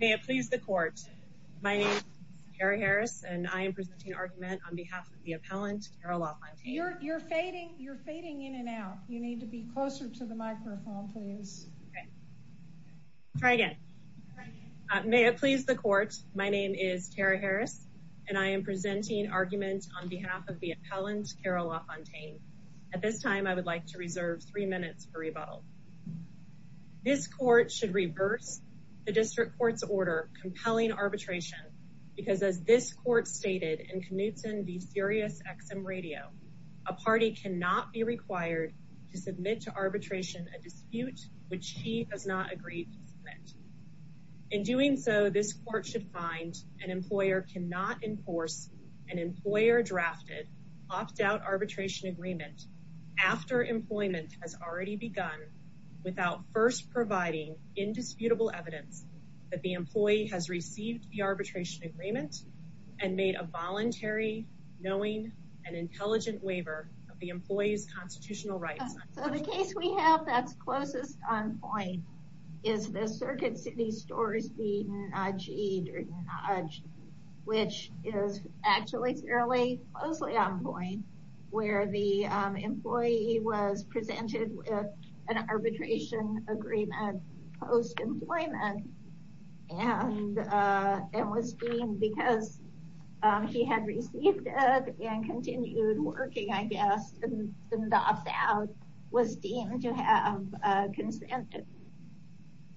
May it please the court. My name is Tara Harris and I am presenting argument on behalf of the appellant Carol LaFontaine. You're fading, you're fading in and out. You need to be closer to the microphone please. Try again. May it please the court. My name is Tara Harris and I am presenting argument on behalf of the appellant Carol LaFontaine. At this time I would like to reserve three minutes for rebuttal. This court should reverse the district court's order compelling arbitration because as this court stated in Knutson v Sirius XM radio, a party cannot be required to submit to arbitration a dispute which he has not agreed to submit. In doing so, this court should find an employer cannot enforce an employer-drafted opt-out arbitration agreement after employment has already begun without first providing indisputable evidence that the employee has received the arbitration agreement and made a voluntary, knowing, and intelligent waiver of the employee's constitutional rights. So the case we have that's closest on point is the Circuit City Nudge, which is actually fairly closely on point where the employee was presented with an arbitration agreement post-employment and was deemed because he had received it and continued working, I guess, and the opt-out was deemed to have consented.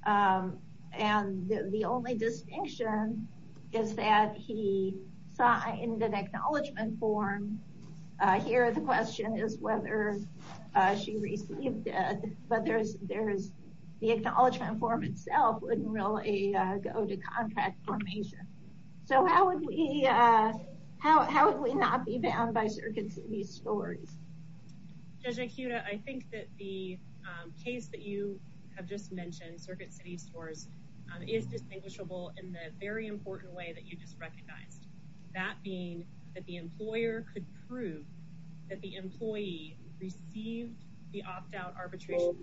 And the only distinction is that he signed an acknowledgement form. Here the question is whether she received it, but the acknowledgement form itself wouldn't really go to contract formation. So how would we, how would we not be bound by Circuit City Scores? Judge Akuda, I think that the case that you have just mentioned, Circuit City Scores, is distinguishable in the very important way that you just recognized. That being that the employer could prove that the employee received the opt-out arbitration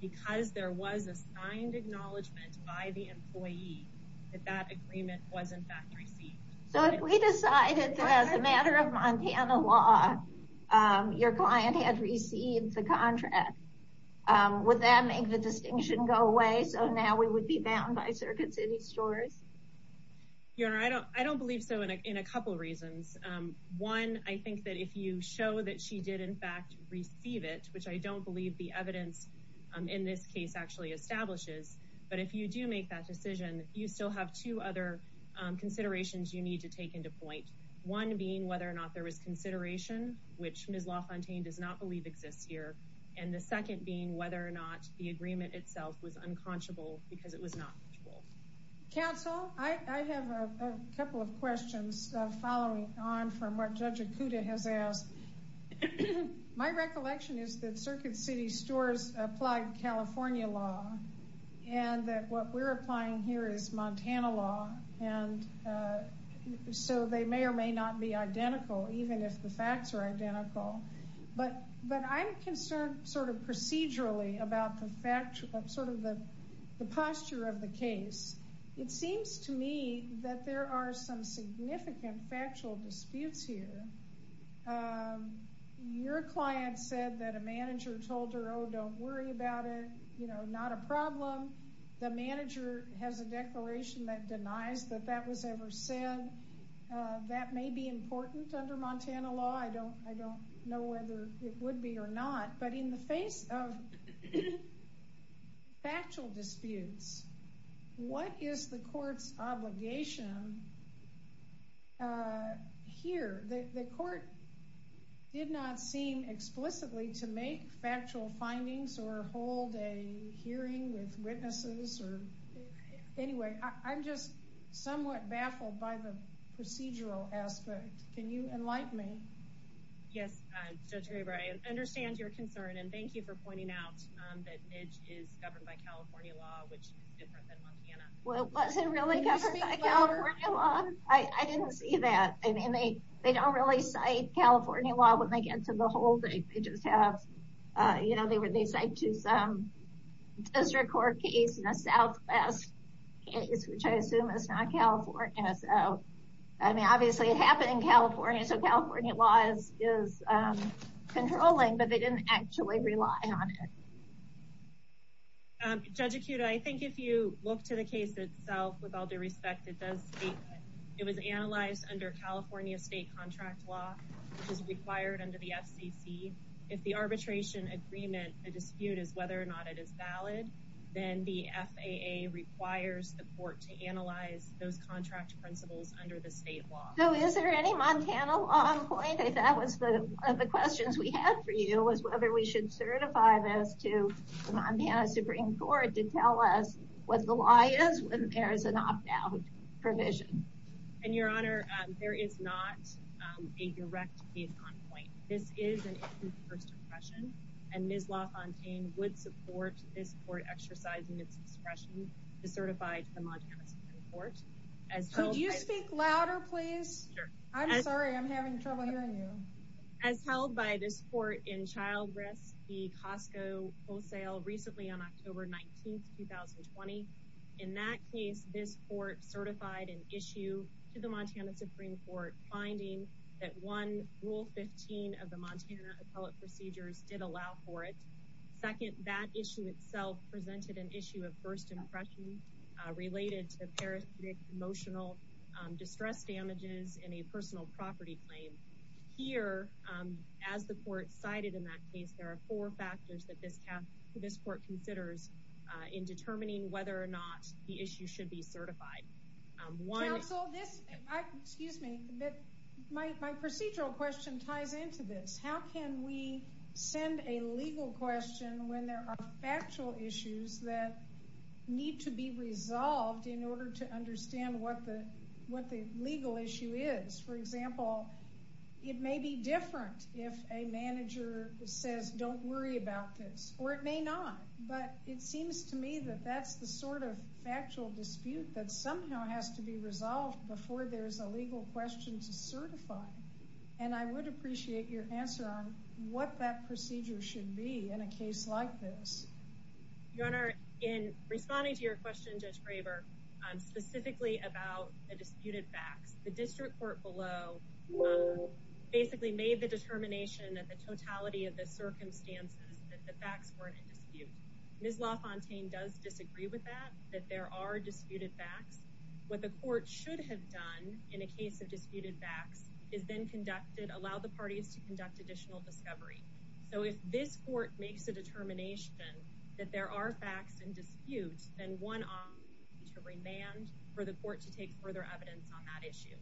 because there was a signed acknowledgement by the employee that that agreement was in fact received. So if we decided that as a matter of Montana law, your client had received the contract, would that make the distinction go away so now we would be bound by Circuit City Scores? Your Honor, I don't believe so in a couple reasons. One, I think that if you show that she did in fact receive it, which I don't believe the evidence in this case actually establishes, if you do make that decision, you still have two other considerations you need to take into point. One being whether or not there was consideration, which Ms. LaFontaine does not believe exists here, and the second being whether or not the agreement itself was unconscionable because it was not. Counsel, I have a couple of questions following on from what Judge Akuda has asked. My recollection is that Circuit City Scores applied California law and that what we're applying here is Montana law, and so they may or may not be identical, even if the facts are identical. But I'm concerned sort of procedurally about the posture of the case. It seems to me that there are some significant factual disputes here. Your client said that a manager told her, oh, don't worry about it. You know, not a problem. The manager has a declaration that denies that that was ever said. That may be important under Montana law. I don't know whether it would be or not, but in the face of factual disputes, what is the court's obligation here? The court did not seem explicitly to make factual findings or hold a hearing with witnesses or anyway. I'm just somewhat baffled by the procedural aspect. Can you enlighten me? Yes, Judge Graber, I understand your concern, and thank you for pointing out that Midge is governed by California law, which is different than Montana. Well, was it really governed by California law? I didn't see that. I mean, they don't really cite California law when they get to the whole thing. They just have, you know, they cite to some district court case and a Southwest case, which I assume is not California. So, obviously, it happened in California, so California law is controlling, but they didn't actually rely on it. Judge Akuda, I think if you look to the case itself, with all due respect, it does state that it was analyzed under California state contract law, which is required under the FCC. If the arbitration agreement, the dispute is whether or not it is valid, then the FAA requires the court to analyze those contract principles under the state law. So, is there any Montana law on point, if that was one of the questions we had for you, was whether we should certify this to the Montana Supreme Court to tell us what the law is when there is an opt-out provision. And, Your Honor, there is not a direct case on point. This is an open first impression, and Ms. LaFontaine would support this court exercising its discretion to certify to the Montana Supreme Court. Could you speak louder, please? I'm sorry, I'm having trouble hearing you. As held by this court in Child Risk, the Costco wholesale, recently on October 19, 2020. In that case, this court certified an issue to the Montana Supreme Court, finding that one rule 15 of Montana appellate procedures did allow for it. Second, that issue itself presented an issue of first impression related to parasitic emotional distress damages in a personal property claim. Here, as the court cited in that case, there are four factors that this court considers in determining whether or not the issue should be certified. Counsel, this, excuse me, but my procedural question ties into this. How can we send a legal question when there are factual issues that need to be resolved in order to understand what the legal issue is? For example, it may be different if a manager says don't worry about this, or it may not, but it seems to me that that's the sort of factual dispute that has to be resolved before there's a legal question to certify. And I would appreciate your answer on what that procedure should be in a case like this. Your Honor, in responding to your question, Judge Graber, specifically about the disputed facts, the district court below basically made the determination that the totality of the circumstances that the facts were in that there are disputed facts. What the court should have done in a case of disputed facts is then conducted, allow the parties to conduct additional discovery. So if this court makes a determination that there are facts in dispute, then one to remand for the court to take further evidence on that issue.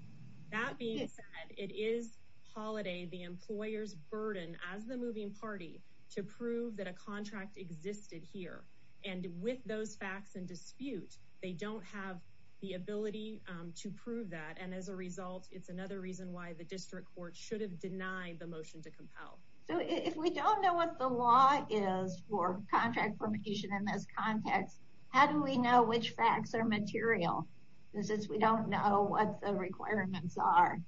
That being said, it is holiday, the employer's burden as the moving party to prove that a contract existed here. And with those facts and dispute, they don't have the ability to prove that. And as a result, it's another reason why the district court should have denied the motion to compel. So if we don't know what the law is for contract formation in this context, how do we know which facts are material? This is we don't know what the requirements are.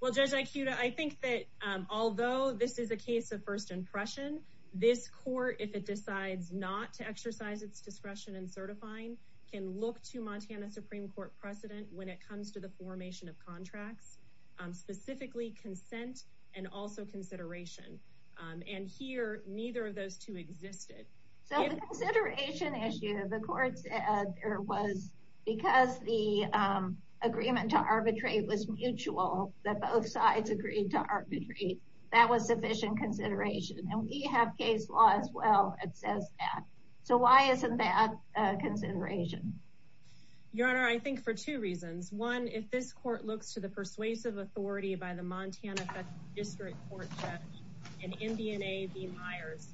Well, Judge Aikuda, I think that although this is a case of first impression, this court, if it decides not to exercise its discretion and certifying, can look to Montana Supreme Court precedent when it comes to the formation of contracts, specifically consent, and also consideration. And here, neither of those two existed. So the consideration issue of the courts there was because the agreement to arbitrate was mutual, that both sides agreed to arbitrate. That was sufficient consideration. And we have case law as well. It says that. So why isn't that consideration? Your Honor, I think for two reasons. One, if this court looks to the persuasive authority by the Montana District Court and in DNA, the Myers,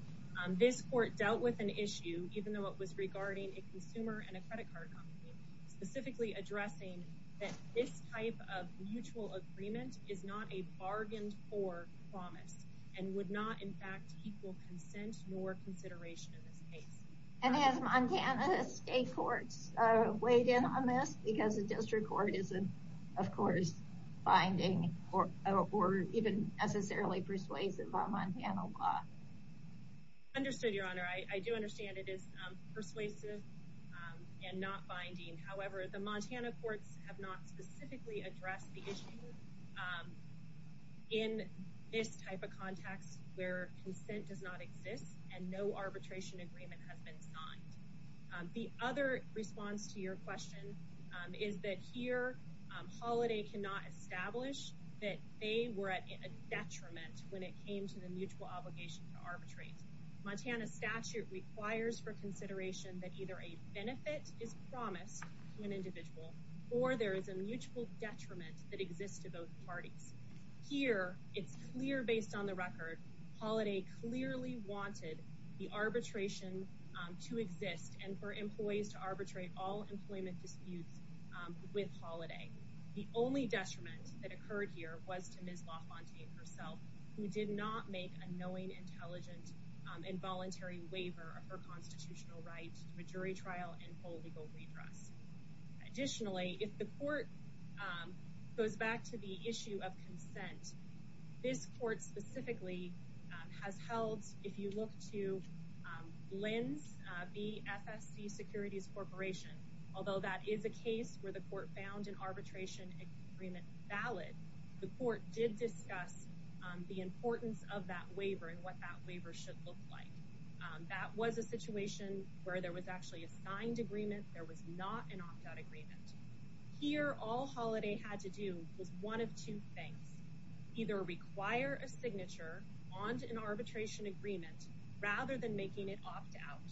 this court dealt with an issue, even though it was regarding a consumer and a credit card company, specifically addressing that this type of mutual agreement is not a bargained for promise and would not, in fact, equal consent or consideration in this case. And as Montana state courts weighed in on this because the district court is, of course, finding or even necessarily persuasive on Montana law. Understood, Your Honor. I do understand it is persuasive and not binding. However, the Montana courts have not specifically addressed the issue in this type of context where consent does not exist and no arbitration agreement has been signed. The other response to your question is that here holiday cannot establish that they were at a Montana statute requires for consideration that either a benefit is promised to an individual or there is a mutual detriment that exists to both parties here. It's clear based on the record. Holiday clearly wanted the arbitration to exist and for employees to arbitrate all employment disputes with holiday. The only detriment that occurred here was to Ms. LaFontaine herself, who did not make a knowing, intelligent, involuntary waiver of her constitutional rights to a jury trial and full legal redress. Additionally, if the court goes back to the issue of consent, this court specifically has held. If you look to Lins, the FFC Securities Corporation, although that is a case where the court found an arbitration agreement valid, the court did discuss the importance of that waiver and what that waiver should look like. That was a situation where there was actually a signed agreement. There was not an opt-out agreement here. All holiday had to do was one of two things. Either require a signature onto an arbitration agreement rather than making it opt out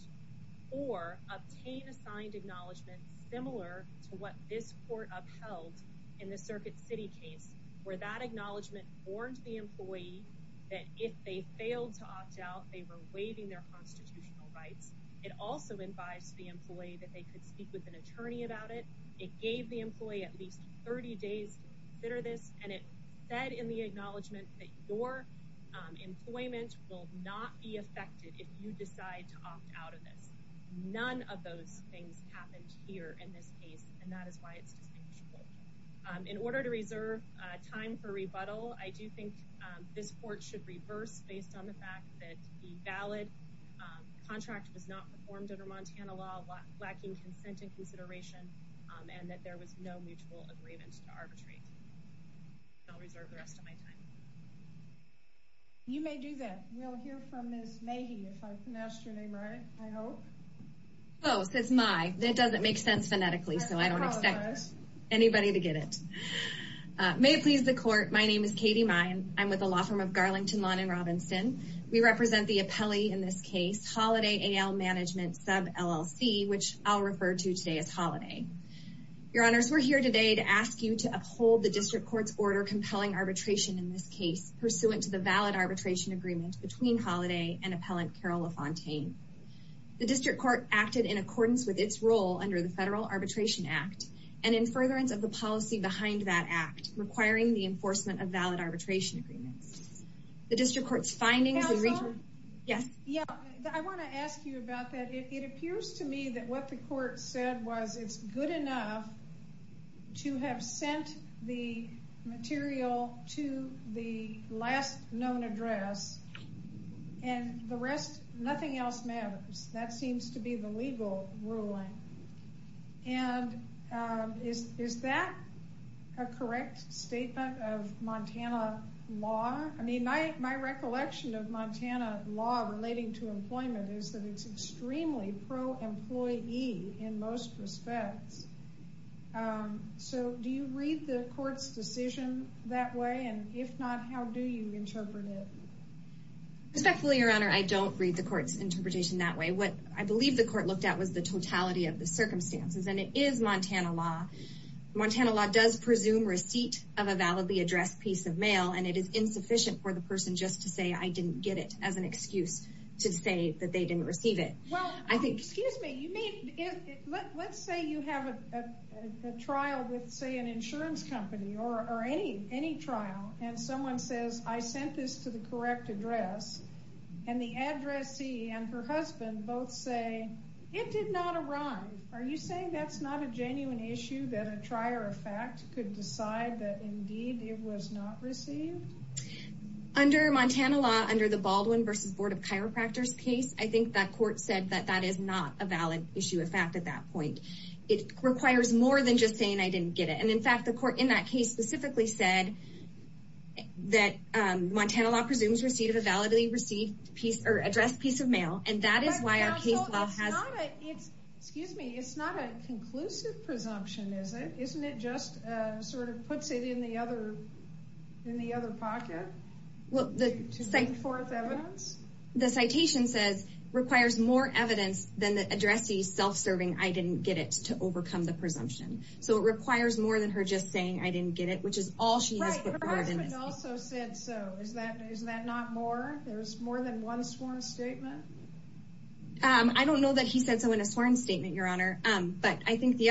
or obtain a signed acknowledgement similar to what this court upheld in the Circuit City case, where that acknowledgement warned the employee that if they failed to opt out, they were waiving their constitutional rights. It also advised the employee that they could speak with an attorney about it. It gave the employee at least 30 days to consider this and it said in the acknowledgement that your employment will not be affected if you decide to opt out of this. None of those things happened here in this case and that is why it's distinguishable. In order to reserve time for rebuttal, I do think this court should reverse based on the fact that the valid contract was not performed under Montana law, lacking consent and consideration, and that there was no mutual agreement to arbitrate. I'll reserve the rest of my time. You may do that. We'll hear from Ms. May. It doesn't make sense phonetically, so I don't expect anybody to get it. May it please the court, my name is Katie May. I'm with the law firm of Garlington Lawn in Robinson. We represent the appellee in this case, Holiday AL Management sub LLC, which I'll refer to today as Holiday. Your honors, we're here today to ask you to uphold the district court's order compelling arbitration in this case pursuant to the valid arbitration agreement between Holiday and appellant Carol LaFontaine. The district court acted in accordance with its role under the Federal Arbitration Act and in furtherance of the policy behind that act, requiring the enforcement of valid arbitration agreements. The district court's findings. I want to ask you about that. It appears to me that what the court said was it's good enough to have sent the material to the last known address and the rest, nothing else matters. That seems to be the legal ruling. And is that a correct statement of Montana law? I mean, my recollection of Montana law relating to employment is that it's extremely pro-employee in most respects. Um, so do you read the court's decision that way? And if not, how do you interpret it? Respectfully, your honor, I don't read the court's interpretation that way. What I believe the court looked at was the totality of the circumstances and it is Montana law. Montana law does presume receipt of a validly addressed piece of mail, and it is insufficient for the person just to say, I didn't get it as an excuse to say that they didn't receive it. Well, I think, excuse me, let's say you have a trial with say an insurance company or any trial and someone says I sent this to the correct address and the addressee and her husband both say it did not arrive. Are you saying that's not a genuine issue that a trier of fact could decide that indeed it was not received? Under Montana law, under the Baldwin versus Board of Chiropractors case, I think that court said that that is not a valid issue of fact at that point. It requires more than just saying I didn't get it. And in fact, the court in that case specifically said that Montana law presumes receipt of a validly received piece or address piece of mail. And that is why our case law has, excuse me, it's not a conclusive presumption, is it? Isn't it just sort of puts it in the other pocket to bring forth evidence? The citation says, requires more evidence than the addressee self-serving I didn't get it to overcome the presumption. So it requires more than her just saying I didn't get it, which is all she has put forward in this case. Her husband also said so. Is that not more? There's more than one sworn statement? I don't know that he said so in a sworn statement, Your Honor. But I think the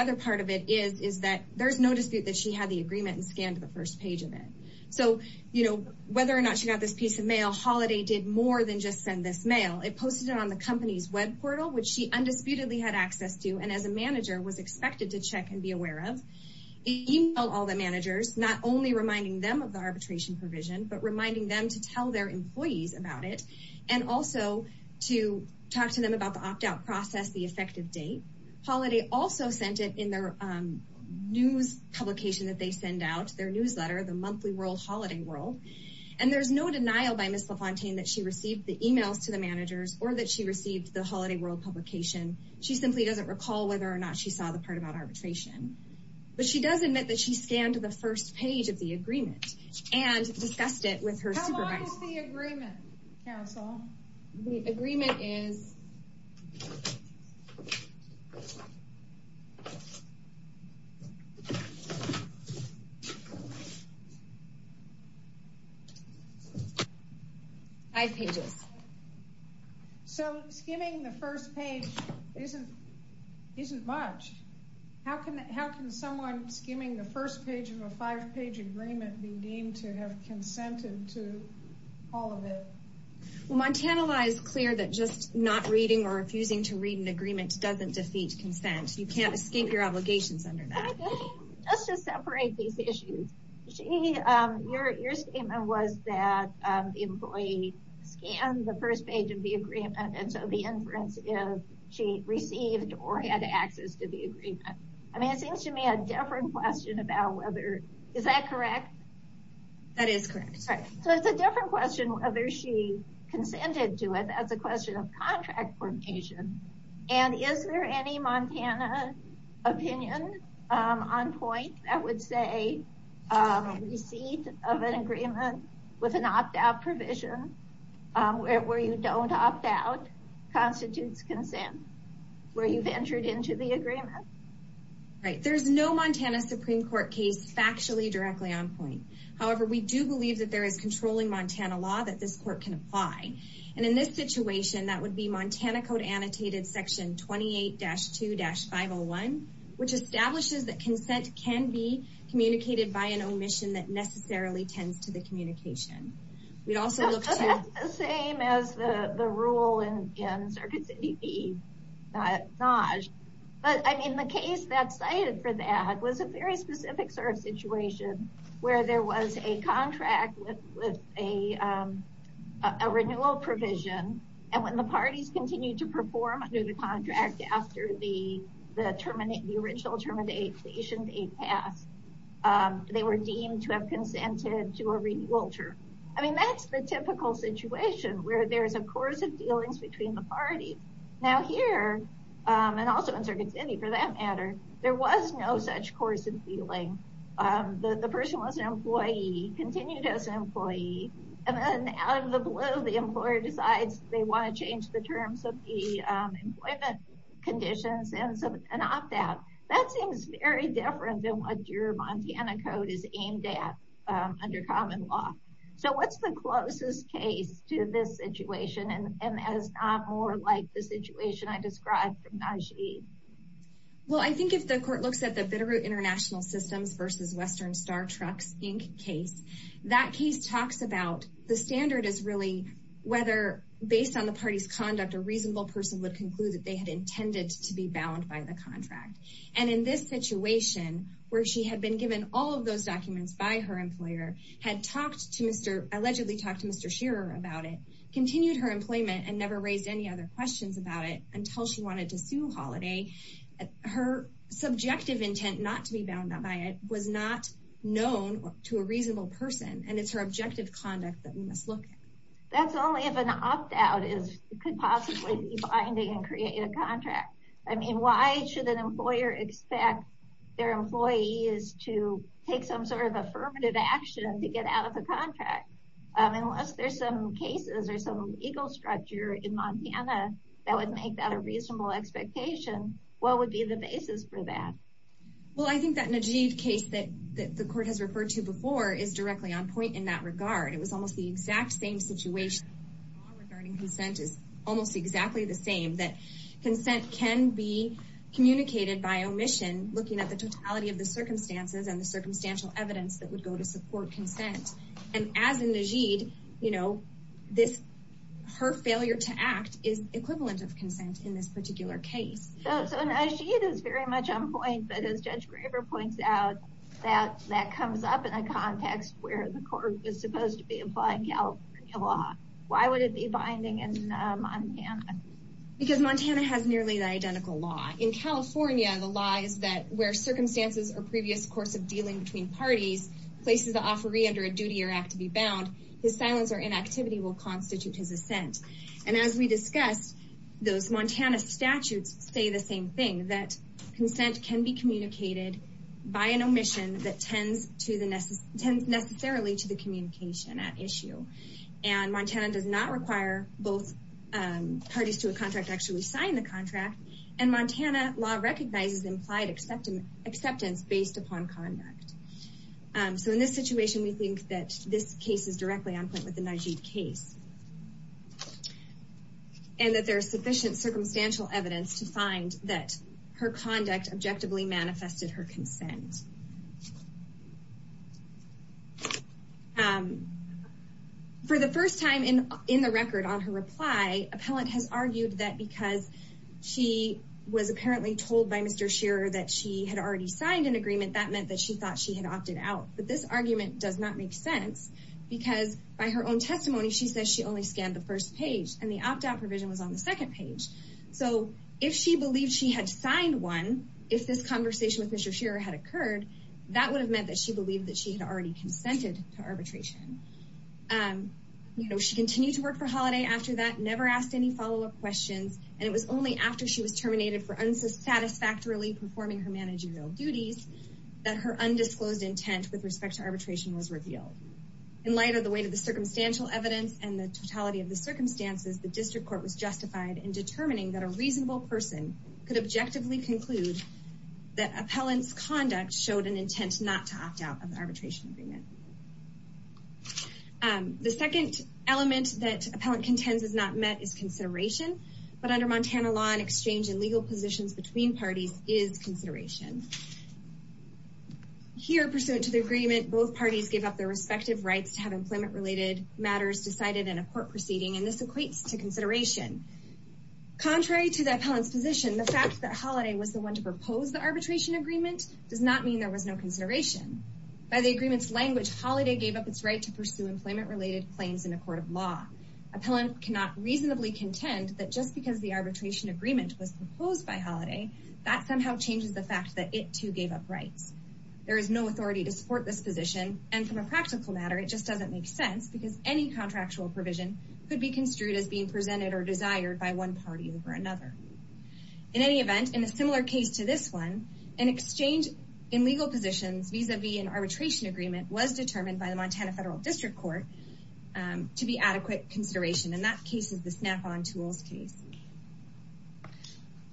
dispute that she had the agreement and scanned the first page of it. So whether or not she got this piece of mail, Holiday did more than just send this mail. It posted it on the company's web portal, which she undisputedly had access to. And as a manager was expected to check and be aware of email all the managers, not only reminding them of the arbitration provision, but reminding them to tell their employees about it. And also to talk to them about the opt out process, the effective date. Holiday also sent it in their news publication that they send out, their newsletter, the Monthly World Holiday World. And there's no denial by Ms. LaFontaine that she received the emails to the managers or that she received the Holiday World publication. She simply doesn't recall whether or not she saw the part about arbitration. But she does admit that she scanned the first page of the agreement and discussed it with her supervisor. How long is the agreement, counsel? The agreement is five pages. So skimming the first page isn't much. How can someone skimming the first page of a five page agreement be deemed to have consented to all of it? Montana law is clear that just not reading or refusing to read an agreement doesn't defeat consent. You can't escape your obligations under that. Let's just separate these issues. Your statement was that the employee scanned the first page of the agreement. And so the inference is she received or had access to the agreement. I mean, it seems to me a different question about whether, is that correct? That is correct. So it's a different question whether she consented to it as a question of contract formation. And is there any Montana opinion on point that would say receipt of an agreement with an opt out provision where you don't opt out constitutes consent, where you've entered into the agreement? Right. There's no Montana Supreme Court case factually directly on point. However, we do believe that there is controlling Montana law that this court can apply. And in this situation, that would be Montana Code Annotated Section 28-2-501, which establishes that consent can be communicated by an omission that necessarily tends to the communication. We'd also look to... That's the same as the rule in Circuit City v. Nagy. But I mean, the case that cited for that was a very specific sort of situation where there was a contract with a renewal provision. And when the parties continued to perform under the contract after the original termination date passed, they were deemed to have consented to a renewal term. I mean, that's the typical situation where there's a course of dealings between the parties. Now here, and also in Circuit City for that matter, there was no such course of dealing. The person was an employee, continued as an employee, and then out of the blue, the employer decides they want to change the terms of the employment conditions and opt out. That seems very different than what your Montana Code is aimed at under common law. So what's the closest case to this situation and is not more like the situation I described from Nagy? Well, I think if the court looks at the Bitterroot International Systems v. Western Star Trucks Inc. case, that case talks about the standard is really whether based on the to be bound by the contract. And in this situation, where she had been given all of those documents by her employer, had talked to Mr., allegedly talked to Mr. Shearer about it, continued her employment, and never raised any other questions about it until she wanted to sue Holliday, her subjective intent not to be bound by it was not known to a reasonable person. And it's her objective conduct that we must look at. That's only if an opt-out could possibly be and create a contract. I mean, why should an employer expect their employees to take some sort of affirmative action to get out of the contract? Unless there's some cases or some ego structure in Montana that would make that a reasonable expectation, what would be the basis for that? Well, I think that Nagy case that the court has referred to before is directly on point in that regard. It was almost the exact same situation regarding consent is almost exactly the same, that consent can be communicated by omission, looking at the totality of the circumstances and the circumstantial evidence that would go to support consent. And as in Nagy, you know, this, her failure to act is equivalent of consent in this particular case. So Nagy is very much on point, but as Judge Graber points out, that comes up in a context where the court was supposed to be applying California law. Why would it be binding in Montana? Because Montana has nearly the identical law. In California, the law is that where circumstances or previous course of dealing between parties places the offeree under a duty or act to be bound, his silence or inactivity will constitute his assent. And as we discussed, those Montana statutes say the same thing, that consent can be communicated by an omission that tends necessarily to the communication at issue. And Montana does not require both parties to a contract to actually sign the contract. And Montana law recognizes implied acceptance based upon conduct. So in this situation, we think that this case is directly on point with the Nagy case. And that there's sufficient circumstantial evidence to find that her conduct objectively manifested her consent. For the first time in the record on her reply, appellant has argued that because she was apparently told by Mr. Shearer that she had already signed an agreement, that meant that she thought she had opted out. But this argument does not make sense because by her own testimony, she says she only scanned the first page and the opt out provision was on the second page. So if she believed she had signed one, if this conversation with Mr. Shearer had occurred, that would have meant that she believed that she had already consented to arbitration. You know, she continued to work for Holiday after that, never asked any follow-up questions. And it was only after she was terminated for unsatisfactorily performing her managerial duties that her undisclosed intent with respect to arbitration was revealed. In light of the weight and the totality of the circumstances, the district court was justified in determining that a reasonable person could objectively conclude that appellant's conduct showed an intent not to opt out of the arbitration agreement. The second element that appellant contends is not met is consideration. But under Montana law, an exchange in legal positions between parties is consideration. Here, pursuant to the agreement, both parties give up their respective rights to employment-related matters decided in a court proceeding, and this equates to consideration. Contrary to the appellant's position, the fact that Holiday was the one to propose the arbitration agreement does not mean there was no consideration. By the agreement's language, Holiday gave up its right to pursue employment-related claims in a court of law. Appellant cannot reasonably contend that just because the arbitration agreement was proposed by Holiday, that somehow changes the fact that it too gave up rights. There is no authority to support this position, and from a legal standpoint, it doesn't make sense because any contractual provision could be construed as being presented or desired by one party over another. In any event, in a similar case to this one, an exchange in legal positions vis-a-vis an arbitration agreement was determined by the Montana Federal District Court to be adequate consideration, and that case is the Snap-on Tools case.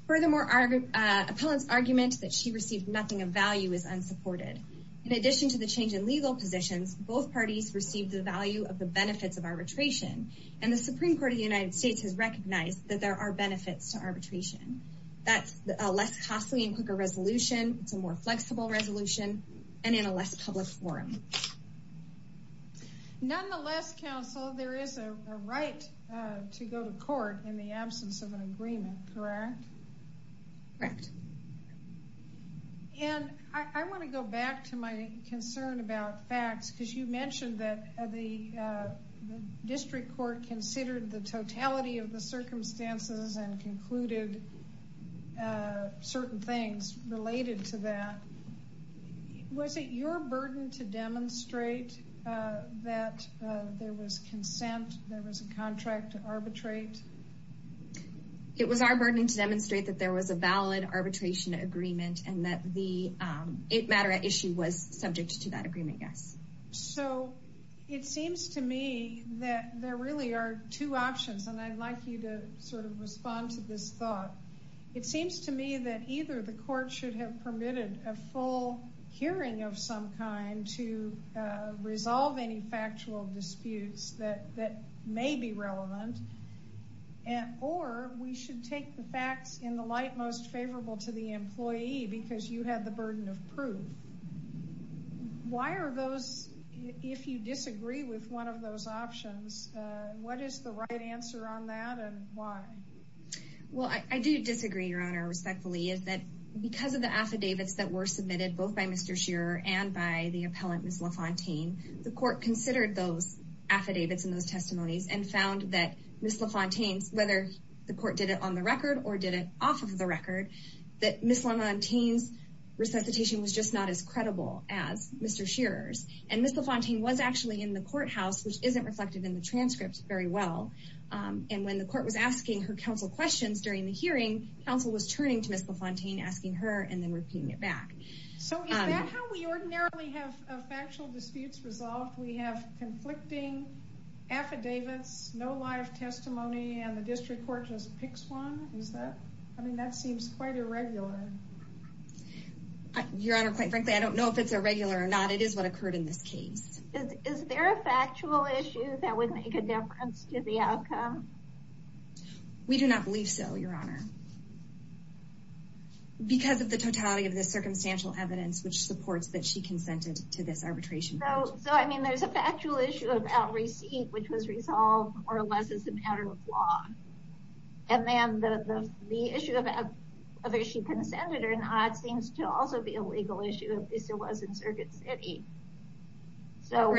Furthermore, appellant's argument that she received nothing of value is unsupported. In addition to the change in legal positions, both parties received the value of the benefits of arbitration, and the Supreme Court of the United States has recognized that there are benefits to arbitration. That's a less costly and quicker resolution, it's a more flexible resolution, and in a less public forum. Nonetheless, counsel, there is a right to go to court in the absence of my concern about facts, because you mentioned that the District Court considered the totality of the circumstances and concluded certain things related to that. Was it your burden to demonstrate that there was consent, there was a contract to arbitrate? It was our burden to demonstrate that was a valid arbitration agreement and that the matter at issue was subject to that agreement, yes? So, it seems to me that there really are two options, and I'd like you to sort of respond to this thought. It seems to me that either the court should have permitted a full hearing of some kind to resolve any factual disputes that may be relevant, or we should take the facts in the light most favorable to the employee because you had the burden of proof. Why are those, if you disagree with one of those options, what is the right answer on that and why? Well, I do disagree, Your Honor, respectfully, is that because of the affidavits that were presented by the defendant, Ms. LaFontaine, the court considered those affidavits and those testimonies and found that Ms. LaFontaine's, whether the court did it on the record or did it off of the record, that Ms. LaFontaine's resuscitation was just not as credible as Mr. Shearer's. And Ms. LaFontaine was actually in the courthouse, which isn't reflected in the transcript very well. And when the court was asking her counsel questions during the hearing, counsel was turning to Ms. LaFontaine, asking her and then repeating it back. So is that how we ordinarily have factual disputes resolved? We have conflicting affidavits, no live testimony, and the district court just picks one? Is that, I mean, that seems quite irregular. Your Honor, quite frankly, I don't know if it's irregular or not. It is what occurred in this case. Is there a factual issue that would make a difference to the outcome? We do not believe so, Your Honor. Because of the totality of this circumstantial evidence, which supports that she consented to this arbitration. So, I mean, there's a factual issue of out receipt, which was resolved more or less as a matter of law. And then the issue of whether she consented or not seems to also be a legal issue, at least it was in Circuit City. So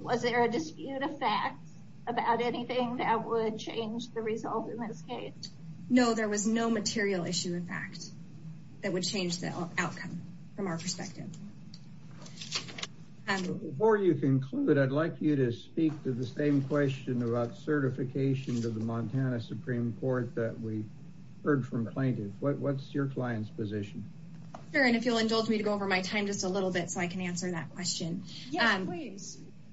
was there a dispute of facts about anything that would change the result in this case? No, there was no material issue, in fact, that would change the outcome from our perspective. Before you conclude, I'd like you to speak to the same question about certification to the Montana Supreme Court that we heard from plaintiffs. What's your client's position? Your Honor, if you'll indulge me to go over my time just a little bit so I can answer that question.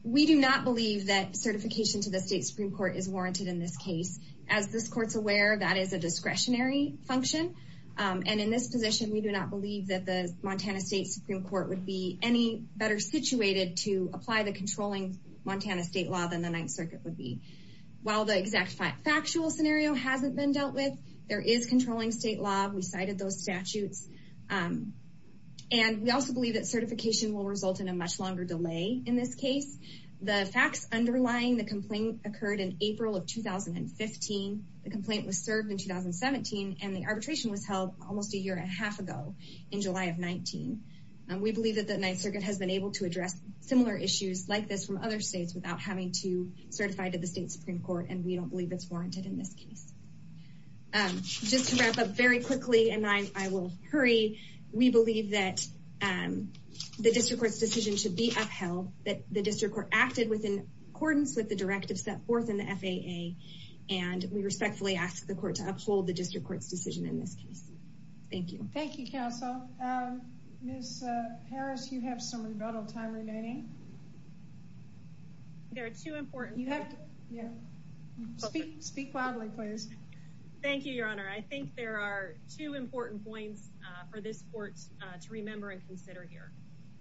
We do not believe that certification to the State Supreme Court is warranted in this case. As this court's aware, that is a discretionary function. And in this position, we do not believe that the Montana State Supreme Court would be any better situated to apply the controlling Montana State law than the Ninth Circuit would be. While the exact factual scenario hasn't been confirmed, we believe that certification will result in a much longer delay in this case. The facts underlying the complaint occurred in April of 2015. The complaint was served in 2017, and the arbitration was held almost a year and a half ago in July of 2019. We believe that the Ninth Circuit has been able to address similar issues like this from other states without having to certify to the State Supreme Court, and we don't believe it's warranted in this case. And just to wrap up very quickly, and I will hurry, we believe that the District Court's decision should be upheld, that the District Court acted within accordance with the directive set forth in the FAA, and we respectfully ask the Court to uphold the District Court's decision in this case. Thank you. Thank you, Counsel. Ms. Harris, you have some rebuttal time remaining. There are two important... You have to, yeah, speak, speak loudly, please. Thank you, Your Honor. I think there are two important points for this Court to remember and consider here.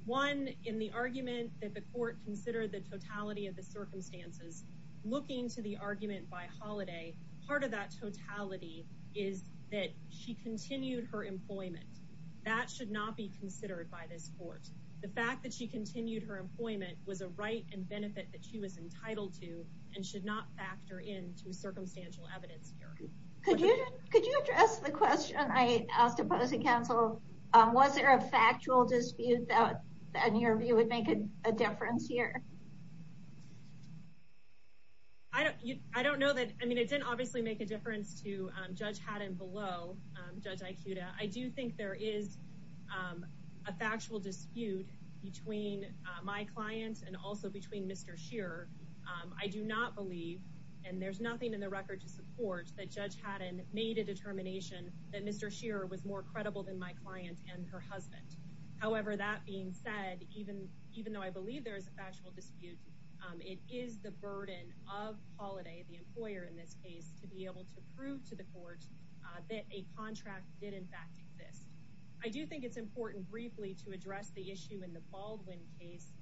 One, in the argument that the Court considered the totality of the circumstances, looking to the argument by Holliday, part of that totality is that she continued her employment. That should not be considered by this Court. The fact that she continued her employment was a right and benefit that she was entitled to, and should not factor into circumstantial evidence here. Could you address the question I asked opposing counsel? Was there a factual dispute that, in your view, would make a difference here? I don't know that... I mean, it didn't obviously make a difference to Judge Haddon below, Judge Aikuda. I do think there is a factual dispute between my client and also between Mr. Shearer. I do not believe, and there's nothing in the record to support that Judge Haddon made a determination that Mr. Shearer was more credible than my client and her husband. However, that being said, even though I believe there is a factual dispute, it is the burden of Holliday, the employer in this case, to be able to prove to the Court that a contract did, in fact, exist. I do think it's important briefly to address the issue in the Baldwin case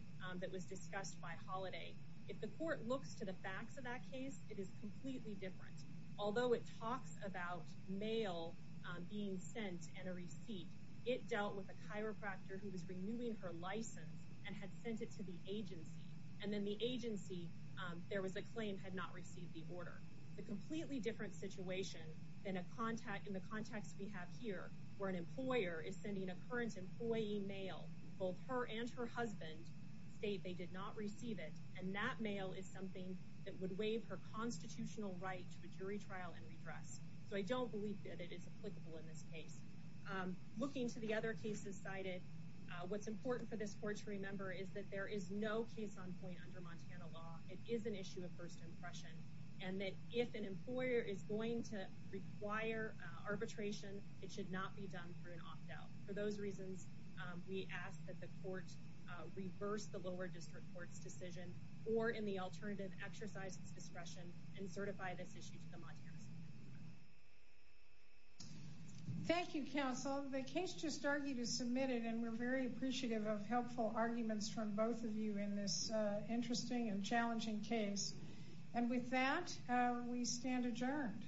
that was discussed by Holliday. If the Court looks to the facts of that case, it is completely different. Although it talks about mail being sent and a receipt, it dealt with a chiropractor who was renewing her license and had sent it to the agency, and then the agency, there was a claim, had not received the order. A completely different situation than in the context we have here, where an employer is sending a current employee mail. Both her and her husband state they did not receive it, and that mail is something that would waive her constitutional right to a jury trial and redress. So I don't believe that it is applicable in this case. Looking to the other cases cited, what's important for this Court to remember is that there is no case on point under Montana law. It is an issue of first impression, and that if an employer is going to require arbitration, it should not be done through an opt-out. For those reasons, we ask that the Court reverse the lower district court's decision or, in the alternative, exercise its discretion and certify this issue to the Montana Supreme Court. Thank you, counsel. The case just argued is submitted, and we're very appreciative of helpful arguments from both of you in this interesting and challenging case. And with that, we stand adjourned.